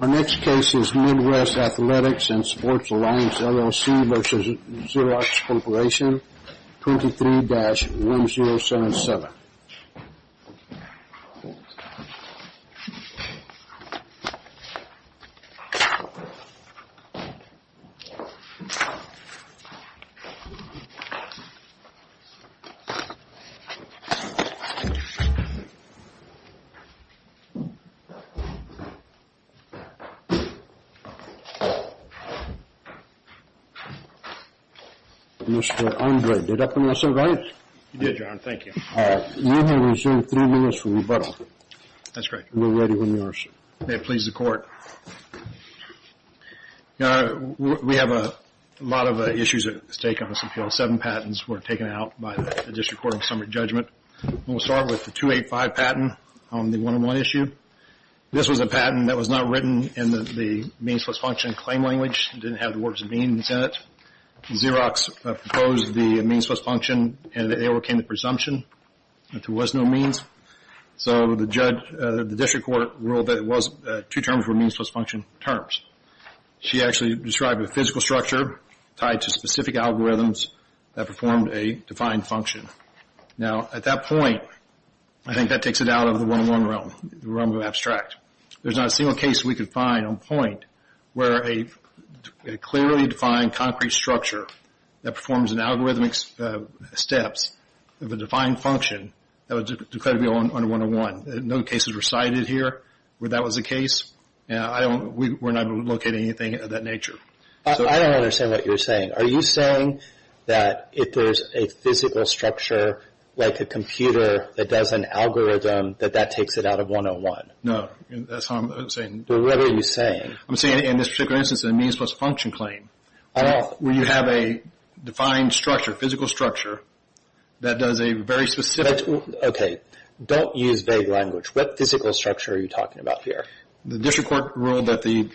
Our next case is Midwest Athletics and Sports Alliance LLC v. Xerox Corporation, 23-1077. Mr. Andre, did that come out so right? It did, John. Thank you. You have received three minutes for rebuttal. That's correct. We're ready when you are, sir. May it please the court. We have a lot of issues at stake on this appeal. Seven patents were taken out by the District Court of Summary Judgment. We'll start with the 285 patent on the one-on-one issue. This was a patent that was not written in the means-plus-function claim language. It didn't have the words means in it. Xerox proposed the means-plus-function, and they overcame the presumption that there was no means. So the district court ruled that two terms were means-plus-function terms. She actually described a physical structure tied to specific algorithms that performed a defined function. Now, at that point, I think that takes it out of the one-on-one realm, the realm of abstract. There's not a single case we could find on point where a clearly defined concrete structure that performs an algorithmic step of a defined function that was declared to be on one-on-one. No cases were cited here where that was the case. We're not locating anything of that nature. I don't understand what you're saying. Are you saying that if there's a physical structure like a computer that does an algorithm, that that takes it out of one-on-one? No, that's not what I'm saying. Well, what are you saying? I'm saying in this particular instance, the means-plus-function claim, where you have a defined structure, physical structure, that does a very specific. Okay, don't use vague language. What physical structure are you talking about here? The district court ruled that the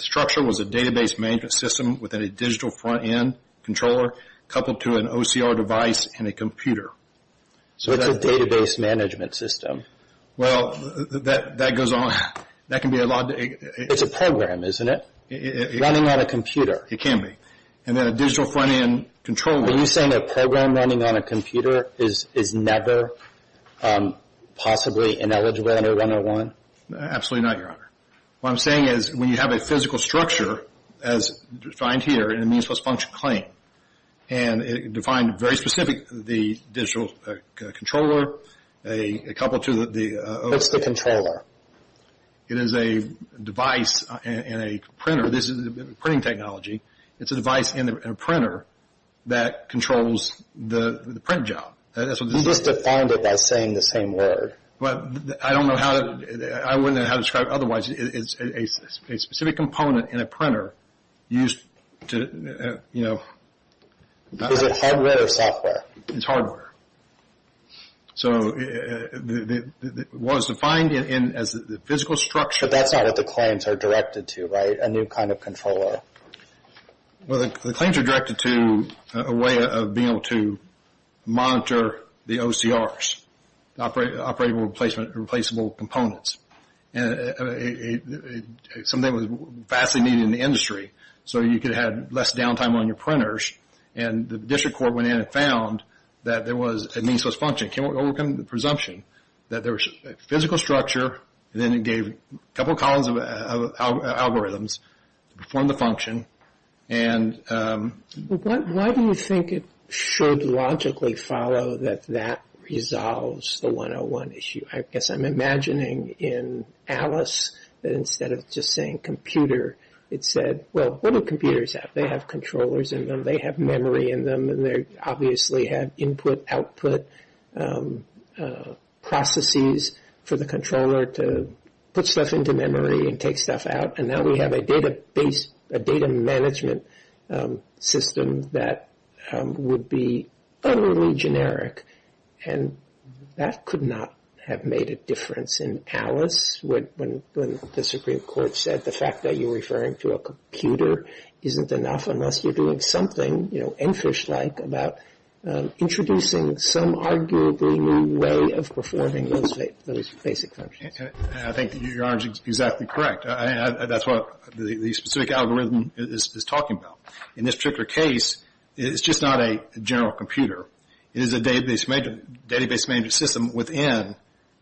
structure was a database management system within a digital front-end controller coupled to an OCR device and a computer. So it's a database management system. Well, that goes on. That can be a lot. It's a program, isn't it, running on a computer? It can be. And then a digital front-end controller. Are you saying a program running on a computer is never possibly ineligible under one-on-one? Absolutely not, Your Honor. What I'm saying is when you have a physical structure, as defined here, in a means-plus-function claim, and it defined very specific the digital controller coupled to the OCR. What's the controller? It is a device in a printer. This is a printing technology. It's a device in a printer that controls the print job. You just defined it by saying the same word. I wouldn't know how to describe it otherwise. It's a specific component in a printer used to, you know. Is it hardware or software? It's hardware. So it was defined as the physical structure. But that's not what the claims are directed to, right, a new kind of controller? Well, the claims are directed to a way of being able to monitor the OCRs, operable replacement and replaceable components. And something was vastly needed in the industry so you could have less downtime on your printers. And the district court went in and found that there was a means-plus-function presumption that there was a physical structure, and then it gave a couple columns of algorithms to perform the function. Why do you think it should logically follow that that resolves the 101 issue? I guess I'm imagining in Alice that instead of just saying computer, it said, well, what do computers have? They have controllers in them. They have memory in them. They obviously have input-output processes for the controller to put stuff into memory and take stuff out. And now we have a database, a data management system that would be utterly generic. And that could not have made a difference in Alice when the Supreme Court said the fact that you're referring to a computer isn't enough unless you're doing something, you know, Enfish-like, about introducing some arguably new way of performing those basic functions. I think your argument is exactly correct. That's what the specific algorithm is talking about. In this particular case, it's just not a general computer. It is a database management system within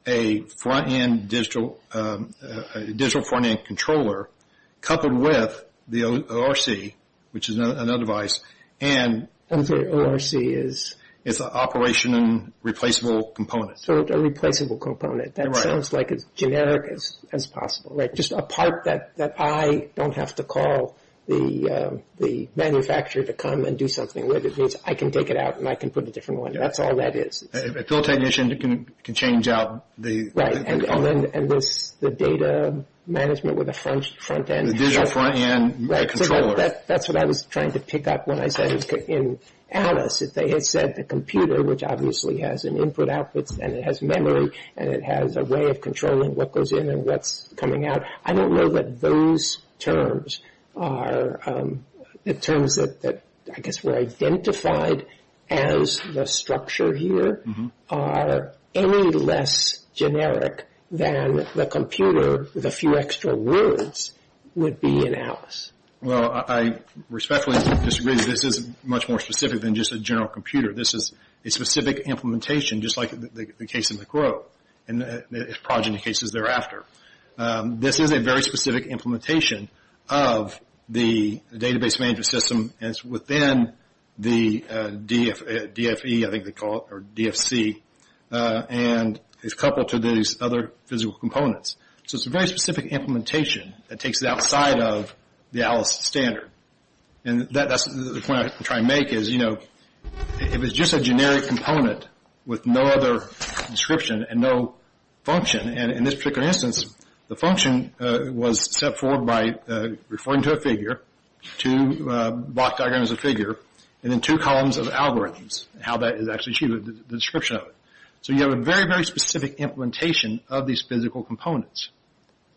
a front-end digital front-end controller coupled with the ORC, which is another device. And the ORC is? It's an operation and replaceable component. So a replaceable component. That sounds like as generic as possible, like just a part that I don't have to call the manufacturer to come and do something with. It means I can take it out and I can put a different one in. That's all that is. A field technician can change out the… Right, and the data management with the front-end. The digital front-end controller. That's what I was trying to pick up when I said in Alice, if they had said the computer, which obviously has an input-output and it has memory and it has a way of controlling what goes in and what's coming out, I don't know that those terms are the terms that I guess were identified as the structure here are any less generic than the computer, with a few extra words, would be in Alice. Well, I respectfully disagree. This is much more specific than just a general computer. This is a specific implementation, just like the case in the Grove and progeny cases thereafter. This is a very specific implementation of the database management system and it's within the DFE, I think they call it, or DFC, and it's coupled to these other physical components. So it's a very specific implementation that takes it outside of the Alice standard. And that's the point I'm trying to make is, you know, if it's just a generic component with no other description and no function, and in this particular instance, the function was set forward by referring to a figure, to block diagram as a figure, and then two columns of algorithms, how that is actually achieved, the description of it. So you have a very, very specific implementation of these physical components.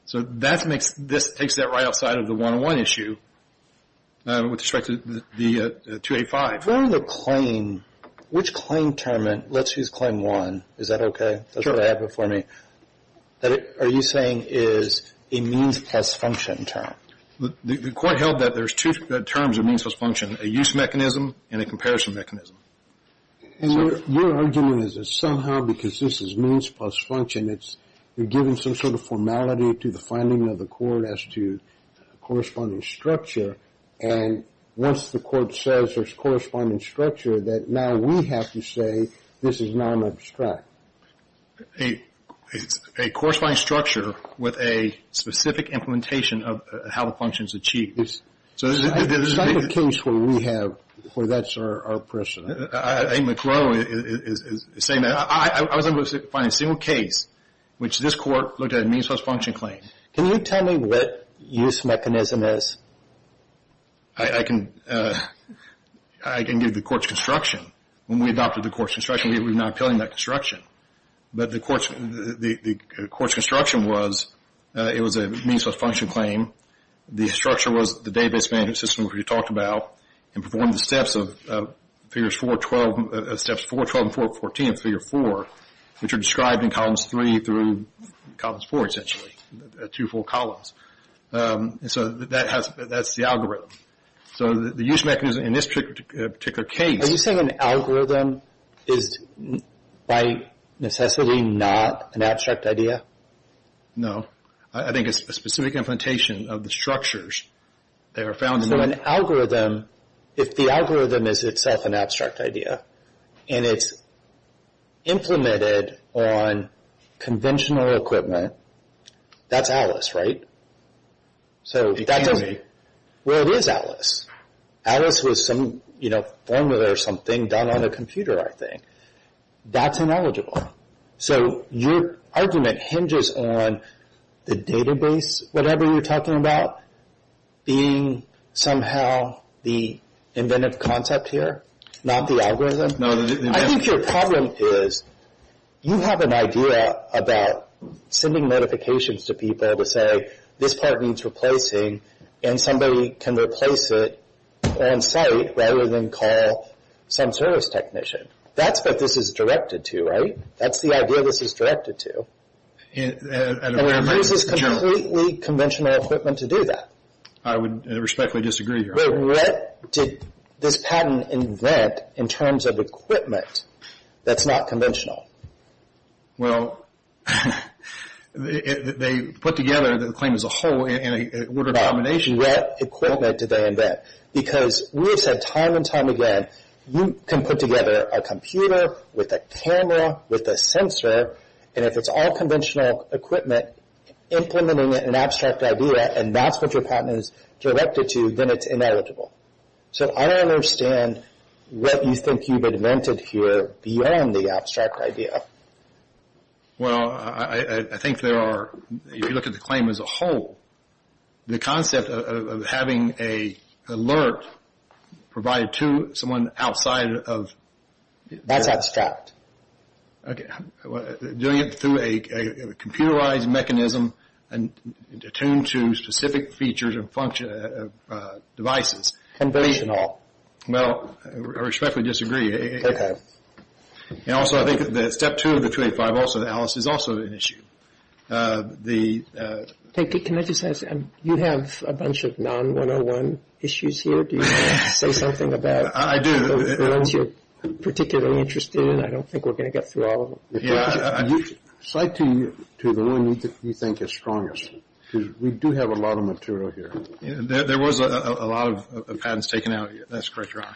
So this takes that right outside of the one-on-one issue with respect to the 285. If I'm referring to claim, which claim term, let's use claim one, is that okay? That's what I have before me. Are you saying is a means plus function term? The court held that there's two terms of means plus function, a use mechanism and a comparison mechanism. And your argument is that somehow because this is means plus function, it's given some sort of formality to the finding of the court as to corresponding structure, and once the court says there's corresponding structure, that now we have to say this is non-abstract. It's a corresponding structure with a specific implementation of how the function is achieved. It's not the case where we have, where that's our precedent. I think McGraw is saying that. I was able to find a single case which this court looked at a means plus function claim. Can you tell me what use mechanism is? I can give the court's construction. When we adopted the court's construction, we were not appealing that construction. But the court's construction was, it was a means plus function claim. The structure was the database management system we talked about and performed the steps of Figures 4, 12, Steps 4, 12, and 4, 14 of Figure 4, which are described in Columns 3 through Columns 4, essentially, two full columns. So that's the algorithm. So the use mechanism in this particular case... Are you saying an algorithm is by necessity not an abstract idea? No. I think it's a specific implementation of the structures that are found... So an algorithm, if the algorithm is itself an abstract idea, and it's implemented on conventional equipment, that's Atlas, right? It can be. Well, it is Atlas. Atlas was some formula or something done on a computer, I think. That's ineligible. So your argument hinges on the database, whatever you're talking about, being somehow the inventive concept here, not the algorithm? No. I think your problem is you have an idea about sending notifications to people to say, this part needs replacing, and somebody can replace it on site rather than call some service technician. That's what this is directed to, right? That's the idea this is directed to. And it uses completely conventional equipment to do that. I would respectfully disagree here. But what did this patent invent in terms of equipment that's not conventional? Well, they put together the claim as a whole in a word of combination. But what equipment did they invent? Because we have said time and time again, you can put together a computer with a camera with a sensor, and if it's all conventional equipment, implementing it in an abstract idea, and that's what your patent is directed to, then it's ineligible. So I don't understand what you think you've invented here beyond the abstract idea. Well, I think there are, if you look at the claim as a whole, the concept of having an alert provided to someone outside of their… That's abstract. Okay. Doing it through a computerized mechanism attuned to specific features of devices. Conventional. Well, I respectfully disagree. Okay. And also I think that step two of the 285 also analysis is also an issue. Can I just ask, you have a bunch of non-101 issues here. Do you want to say something about the ones you're particularly interested in? I don't think we're going to get through all of them. Yeah. Cite to the one you think is strongest, because we do have a lot of material here. There was a lot of patents taken out. That's correct, Your Honor.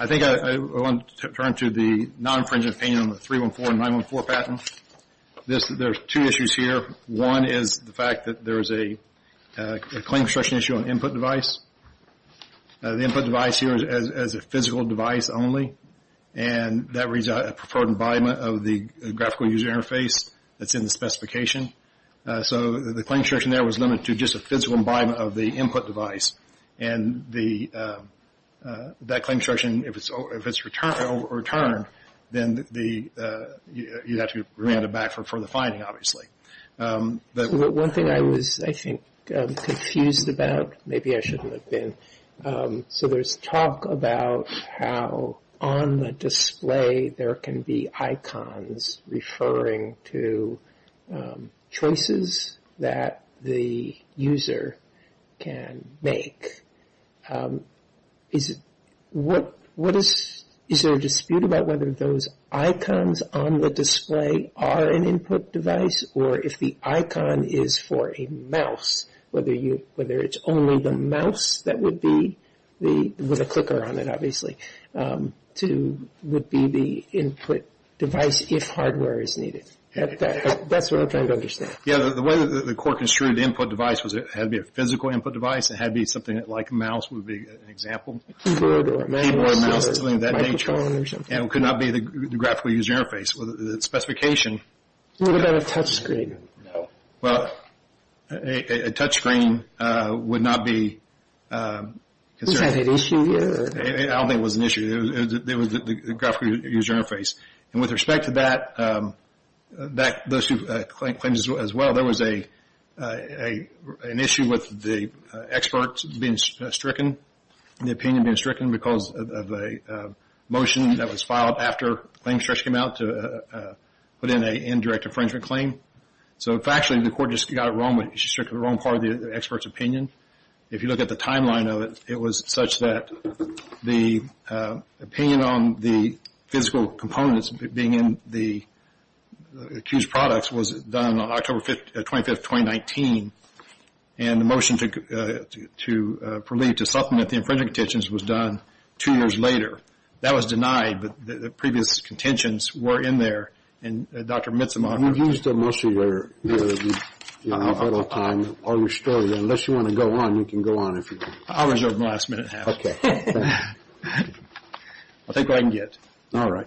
I think I want to turn to the non-infringement opinion on the 314 and 914 patents. There are two issues here. One is the fact that there is a claim restriction issue on input device. The input device here is a physical device only, and that reads a preferred environment of the graphical user interface that's in the specification. So the claim restriction there was limited to just a physical environment of the input device. And that claim restriction, if it's overturned, then you'd have to grant it back for the finding, obviously. One thing I was, I think, confused about, maybe I shouldn't have been, so there's talk about how on the display there can be icons referring to choices that the user can make. Is there a dispute about whether those icons on the display are an input device, or if the icon is for a mouse, whether it's only the mouse that would be, with a clicker on it, obviously, would be the input device if hardware is needed? That's what I'm trying to understand. Yeah, the way the court construed input device was it had to be a physical input device, it had to be something like a mouse would be an example. Keyboard or a mouse. Keyboard or a mouse, something of that nature. Microphone or something. And it could not be the graphical user interface. The specification. What about a touch screen? No. Well, a touch screen would not be considered. Is that an issue here? I don't think it was an issue. It was the graphical user interface. And with respect to that, those two claims as well, there was an issue with the experts being stricken, the opinion being stricken because of a motion that was filed after the claim stretch came out to put in an indirect infringement claim. So, factually, the court just got it wrong, strictly the wrong part of the expert's opinion. If you look at the timeline of it, it was such that the opinion on the physical components being in the accused products was done on October 25th, 2019, and the motion to prolete, to supplement the infringement contentions was done two years later. That was denied, but the previous contentions were in there. We've used most of your time, all your story. Unless you want to go on, you can go on if you want. I'll reserve the last minute half. Okay. I'll take what I can get. All right.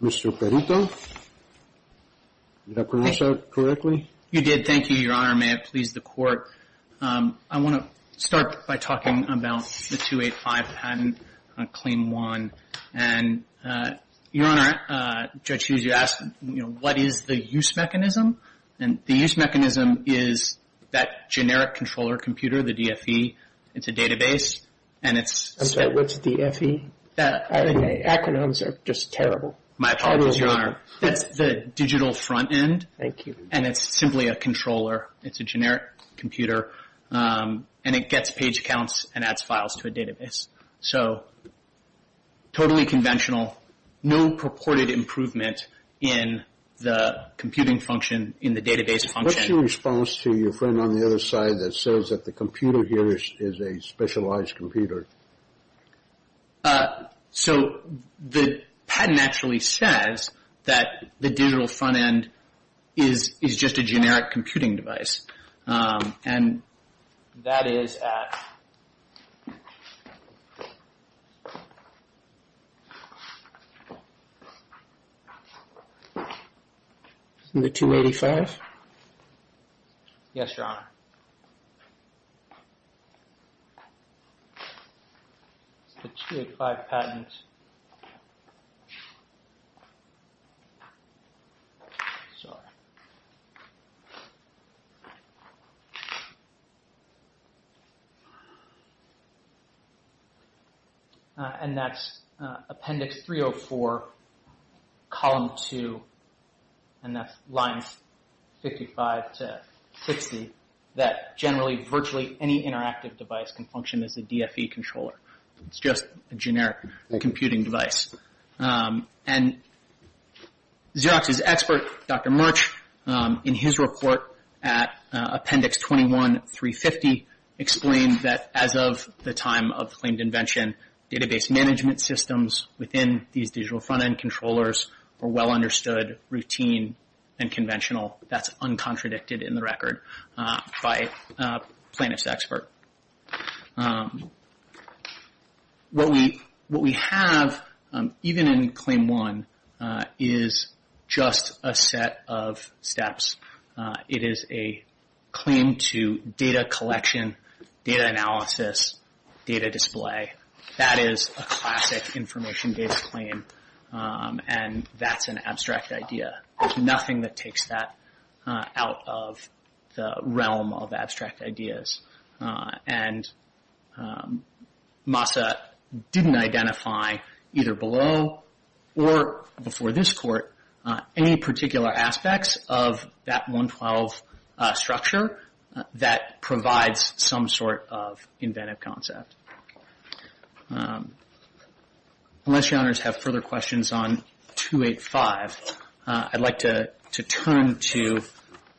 Mr. Perito, did I pronounce that correctly? You did. Thank you, Your Honor. May it please the Court. I want to start by talking about the 285 patent, Claim 1. And, Your Honor, Judge Hughes, you asked, you know, what is the use mechanism? And the use mechanism is that generic controller computer, the DFE. It's a database, and it's- I'm sorry, what's DFE? Acronyms are just terrible. My apologies, Your Honor. That's the digital front end. Thank you. And it's simply a controller. It's a generic computer, and it gets page counts and adds files to a database. So totally conventional, no purported improvement in the computing function, in the database function. What's your response to your friend on the other side that says that the computer here is a specialized computer? So the patent actually says that the digital front end is just a generic computing device. And that is at- The 285? Yes, Your Honor. The 285 patent. Sorry. And that's Appendix 304, Column 2. And that's lines 55 to 60, that generally virtually any interactive device can function as a DFE controller. It's just a generic computing device. And Xerox's expert, Dr. Murch, in his report at Appendix 21-350, explained that as of the time of the claimed invention, database management systems within these digital front end controllers are well understood, routine, and conventional. That's uncontradicted in the record by plaintiff's expert. What we have, even in Claim 1, is just a set of steps. It is a claim to data collection, data analysis, data display. That is a classic information-based claim, and that's an abstract idea. There's nothing that takes that out of the realm of abstract ideas. And Massa didn't identify, either below or before this Court, any particular aspects of that 112 structure that provides some sort of inventive concept. Unless Your Honors have further questions on 285, I'd like to turn to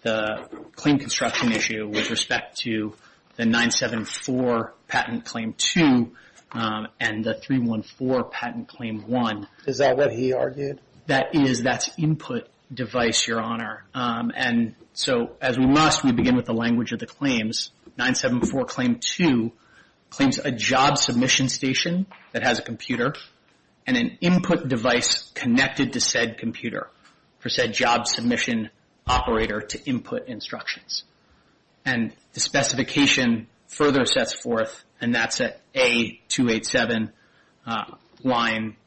the claim construction issue with respect to the 974 Patent Claim 2 and the 314 Patent Claim 1. Is that what he argued? That is. That's input device, Your Honor. And so, as we must, we begin with the language of the claims. 974 Claim 2 claims a job submission station that has a computer and an input device connected to said computer for said job submission operator to input instructions. And the specification further sets forth, and that's at A287, line,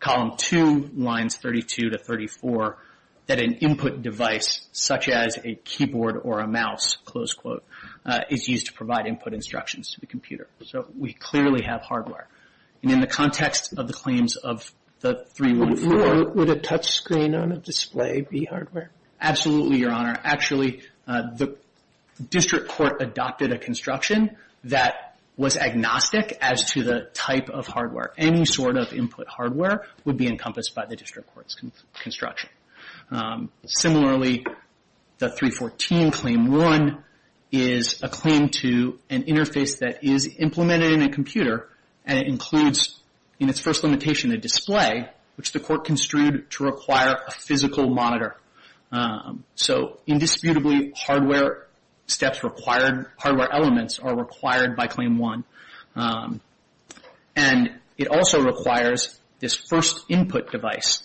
Column 2, Lines 32 to 34, that an input device, such as a keyboard or a mouse, close quote, is used to provide input instructions to the computer. So we clearly have hardware. And in the context of the claims of the 314... Would a touch screen on a display be hardware? Absolutely, Your Honor. Actually, the district court adopted a construction that was agnostic as to the type of hardware. Any sort of input hardware would be encompassed by the district court's construction. Similarly, the 314 Claim 1 is a claim to an interface that is implemented in a computer and it includes, in its first limitation, a display, which the court construed to require a physical monitor. So indisputably, hardware steps required, hardware elements are required by Claim 1. And it also requires this first input device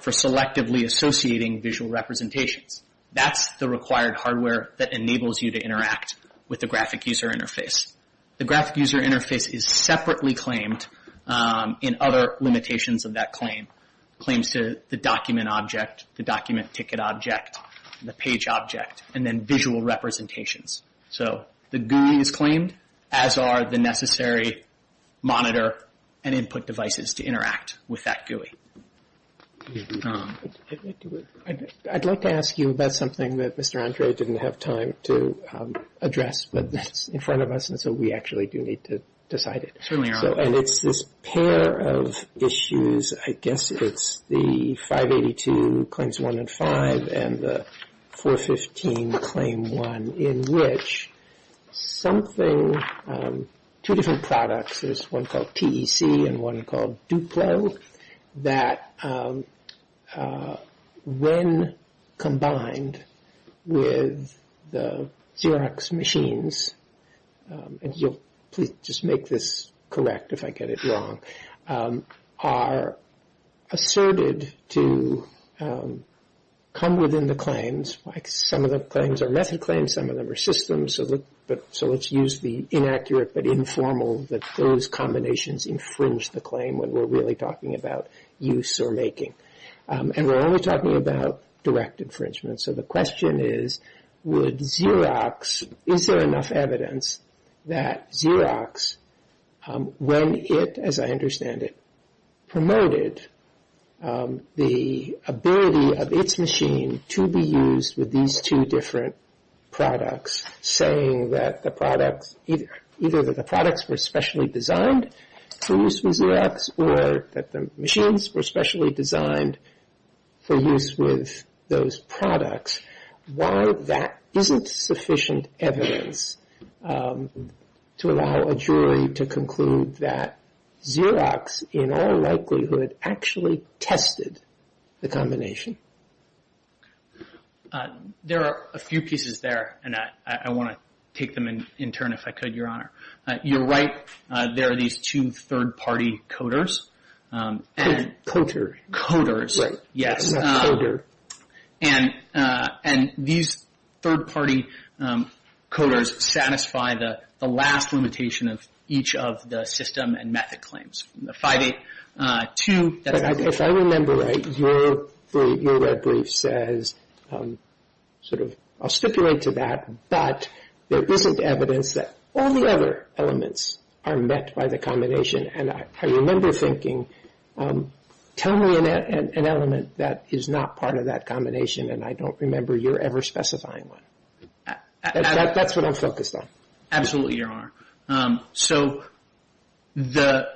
for selectively associating visual representations. That's the required hardware that enables you to interact with the graphic user interface. The graphic user interface is separately claimed in other limitations of that claim. Claims to the document object, the document ticket object, the page object, and then visual representations. So the GUI is claimed, as are the necessary monitor and input devices to interact with that GUI. I'd like to ask you about something that Mr. Andre didn't have time to address, but that's in front of us and so we actually do need to decide it. And it's this pair of issues, I guess it's the 582 Claims 1 and 5 and the 415 Claim 1, in which something, two different products, there's one called TEC and one called Duplo, that when combined with the Xerox machine, and you'll please just make this correct if I get it wrong, are asserted to come within the claims, like some of the claims are method claims, some of them are systems, so let's use the inaccurate but informal that those combinations infringe the claim when we're really talking about use or making. And we're only talking about direct infringement. So the question is, would Xerox, is there enough evidence that Xerox, when it, as I understand it, promoted the ability of its machine to be used with these two different products, saying that the products, either that the products were specially designed for use with Xerox or that the machines were specially designed for use with those products, why that isn't sufficient evidence to allow a jury to conclude that Xerox, in all likelihood, actually tested the combination? There are a few pieces there, and I want to take them in turn if I could, Your Honor. You're right, there are these two third-party coders. Coders, yes. Coder. And these third-party coders satisfy the last limitation of each of the system and method claims. The 582. If I remember right, your red brief says, sort of, I'll stipulate to that, but there isn't evidence that all the other elements are met by the combination. And I remember thinking, tell me an element that is not part of that combination, and I don't remember your ever specifying one. That's what I'm focused on. Absolutely, Your Honor. So the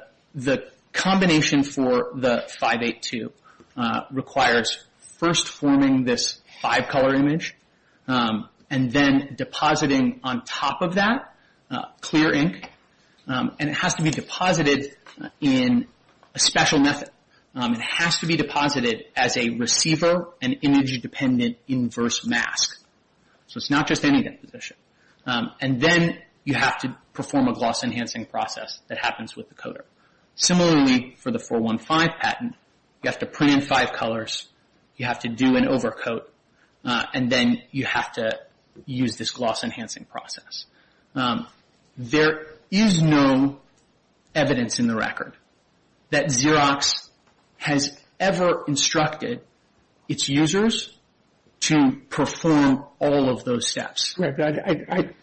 combination for the 582 requires first forming this five-color image, and then depositing on top of that clear ink. And it has to be deposited in a special method. It has to be deposited as a receiver and image-dependent inverse mask. So it's not just any deposition. And then you have to perform a gloss enhancing process that happens with the coder. Similarly for the 415 patent, you have to print in five colors, you have to do an overcoat, and then you have to use this gloss enhancing process. There is no evidence in the record that Xerox has ever instructed its users to perform all of those steps. At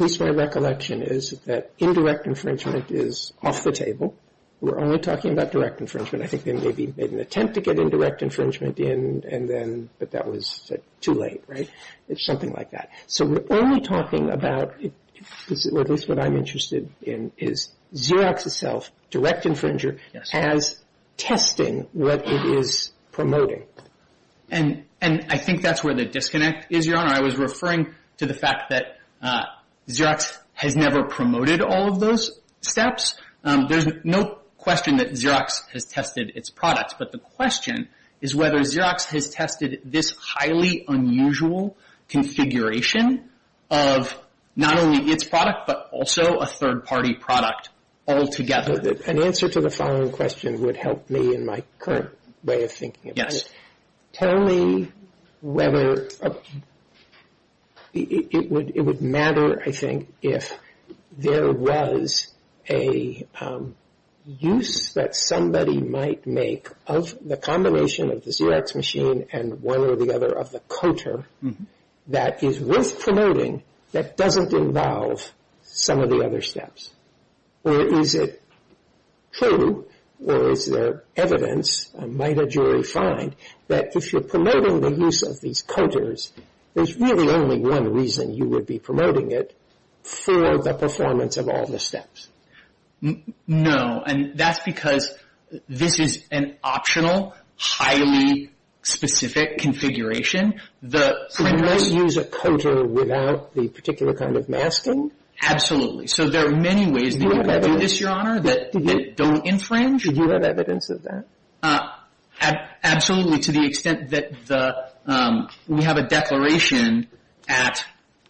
least my recollection is that indirect infringement is off the table. We're only talking about direct infringement. I think they maybe made an attempt to get indirect infringement in, but that was too late, right? It's something like that. So we're only talking about, at least what I'm interested in, is Xerox itself, direct infringer, has testing what it is promoting. And I think that's where the disconnect is, Your Honor. I was referring to the fact that Xerox has never promoted all of those steps. There's no question that Xerox has tested its products, but the question is whether Xerox has tested this highly unusual configuration of not only its product, but also a third-party product altogether. An answer to the following question would help me in my current way of thinking about it. Yes. Tell me whether it would matter, I think, if there was a use that somebody might make of the combination of the Xerox machine and one or the other of the coater that is worth promoting that doesn't involve some of the other steps. Or is it true, or is there evidence, might a jury find, that if you're promoting the use of these coaters, there's really only one reason you would be promoting it for the performance of all the steps? No, and that's because this is an optional, highly specific configuration. So you might use a coater without the particular kind of masking? Absolutely. So there are many ways that you could do this, Your Honor, that don't infringe. Do you have evidence of that? Absolutely, to the extent that we have a declaration at,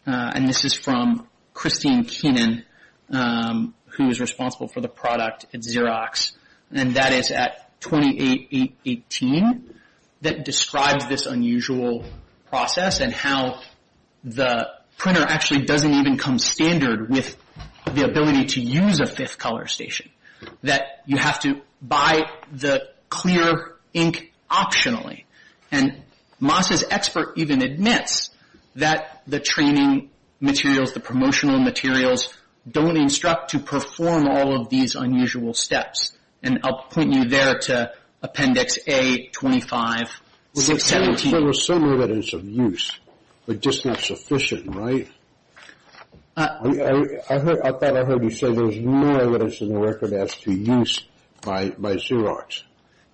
and this is from Christine Keenan, who is responsible for the product at Xerox, and that is at 28.8.18 that describes this unusual process and how the printer actually doesn't even come standard with the ability to use a fifth color station, that you have to buy the clear ink optionally. And Moss's expert even admits that the training materials, the promotional materials, don't instruct to perform all of these unusual steps. And I'll point you there to Appendix A25.617. So there's some evidence of use, but just not sufficient, right? I thought I heard you say there's no evidence in the record as to use by Xerox.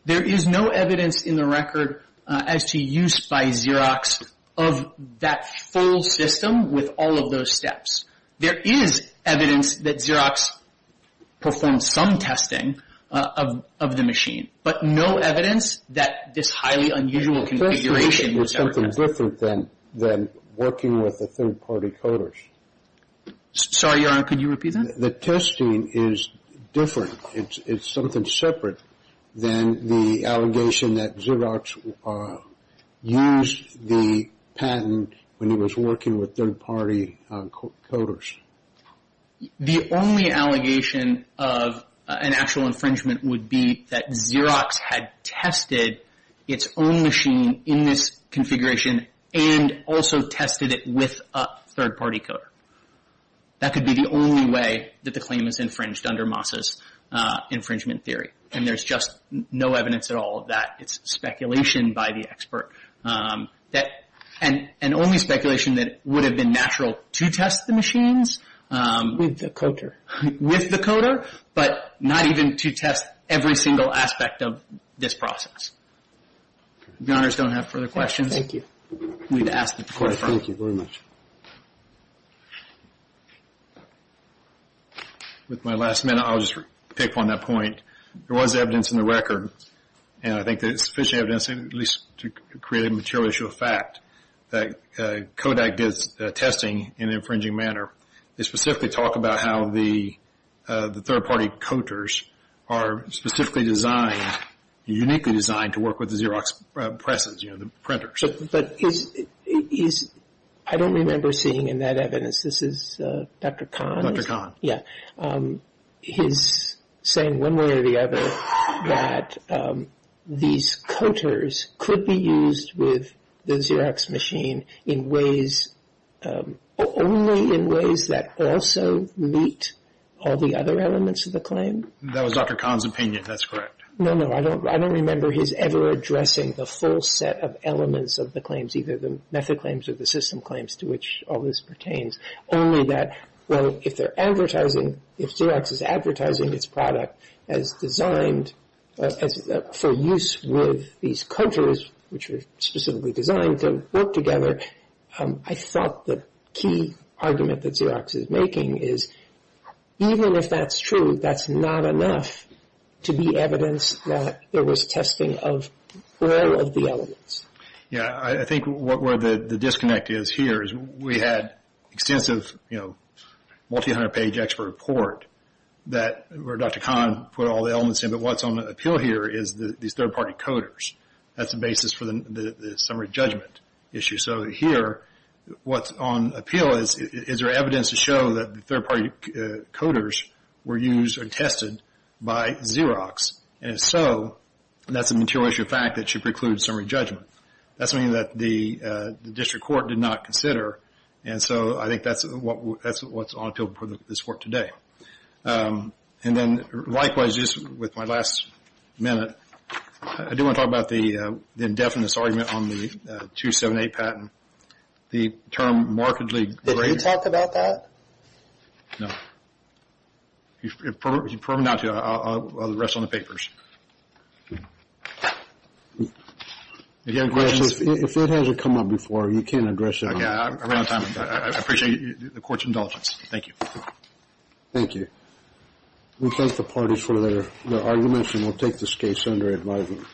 There is no evidence in the record as to use by Xerox of that full system with all of those steps. There is evidence that Xerox performed some testing of the machine, but no evidence that this highly unusual configuration was ever tested. The testing was something different than working with the third party coders. Sorry, Your Honor, could you repeat that? The testing is different. It's something separate than the allegation that Xerox used the patent when it was working with third party coders. The only allegation of an actual infringement would be that Xerox had tested its own machine in this configuration and also tested it with a third party coder. That could be the only way that the claim is infringed under Moss's infringement theory. And there's just no evidence at all of that. It's speculation by the expert. And only speculation that it would have been natural to test the machines. With the coder. With the coder, but not even to test every single aspect of this process. If Your Honors don't have further questions, we'd ask that the Court affirm. Thank you very much. With my last minute, I'll just pick on that point. There was evidence in the record, and I think there's sufficient evidence at least to create a material issue of fact, that Kodak does testing in an infringing manner. They specifically talk about how the third party coders are specifically designed, uniquely designed to work with the Xerox presses, you know, the printers. But I don't remember seeing in that evidence, this is Dr. Kahn? Dr. Kahn. Yeah. He's saying one way or the other that these coders could be used with the Xerox machine in ways, only in ways that also meet all the other elements of the claim. That was Dr. Kahn's opinion. That's correct. No, no. I don't remember his ever addressing the full set of elements of the claims, either the method claims or the system claims to which all this pertains. Only that, well, if they're advertising, if Xerox is advertising its product as designed for use with these coders, which are specifically designed to work together, I thought the key argument that Xerox is making is even if that's true, that's not enough to be evidence that there was testing of all of the elements. Yeah. I think where the disconnect is here is we had extensive, you know, multi-hundred-page expert report where Dr. Kahn put all the elements in, but what's on appeal here is these third-party coders. That's the basis for the summary judgment issue. So here, what's on appeal is, is there evidence to show that the third-party coders were used or tested by Xerox? And if so, that's a material issue of fact that should preclude summary judgment. That's something that the district court did not consider, and so I think that's what's on appeal for this court today. And then, likewise, just with my last minute, I do want to talk about the indefinite argument on the 278 patent. The term markedly greater... Did he talk about that? No. If you probe him down to it, I'll rest on the papers. If you have questions... If it hasn't come up before, you can address it. Yeah, I ran out of time. I appreciate the court's indulgence. Thank you. Thank you. We thank the parties for their arguments, and we'll take this case under advisement.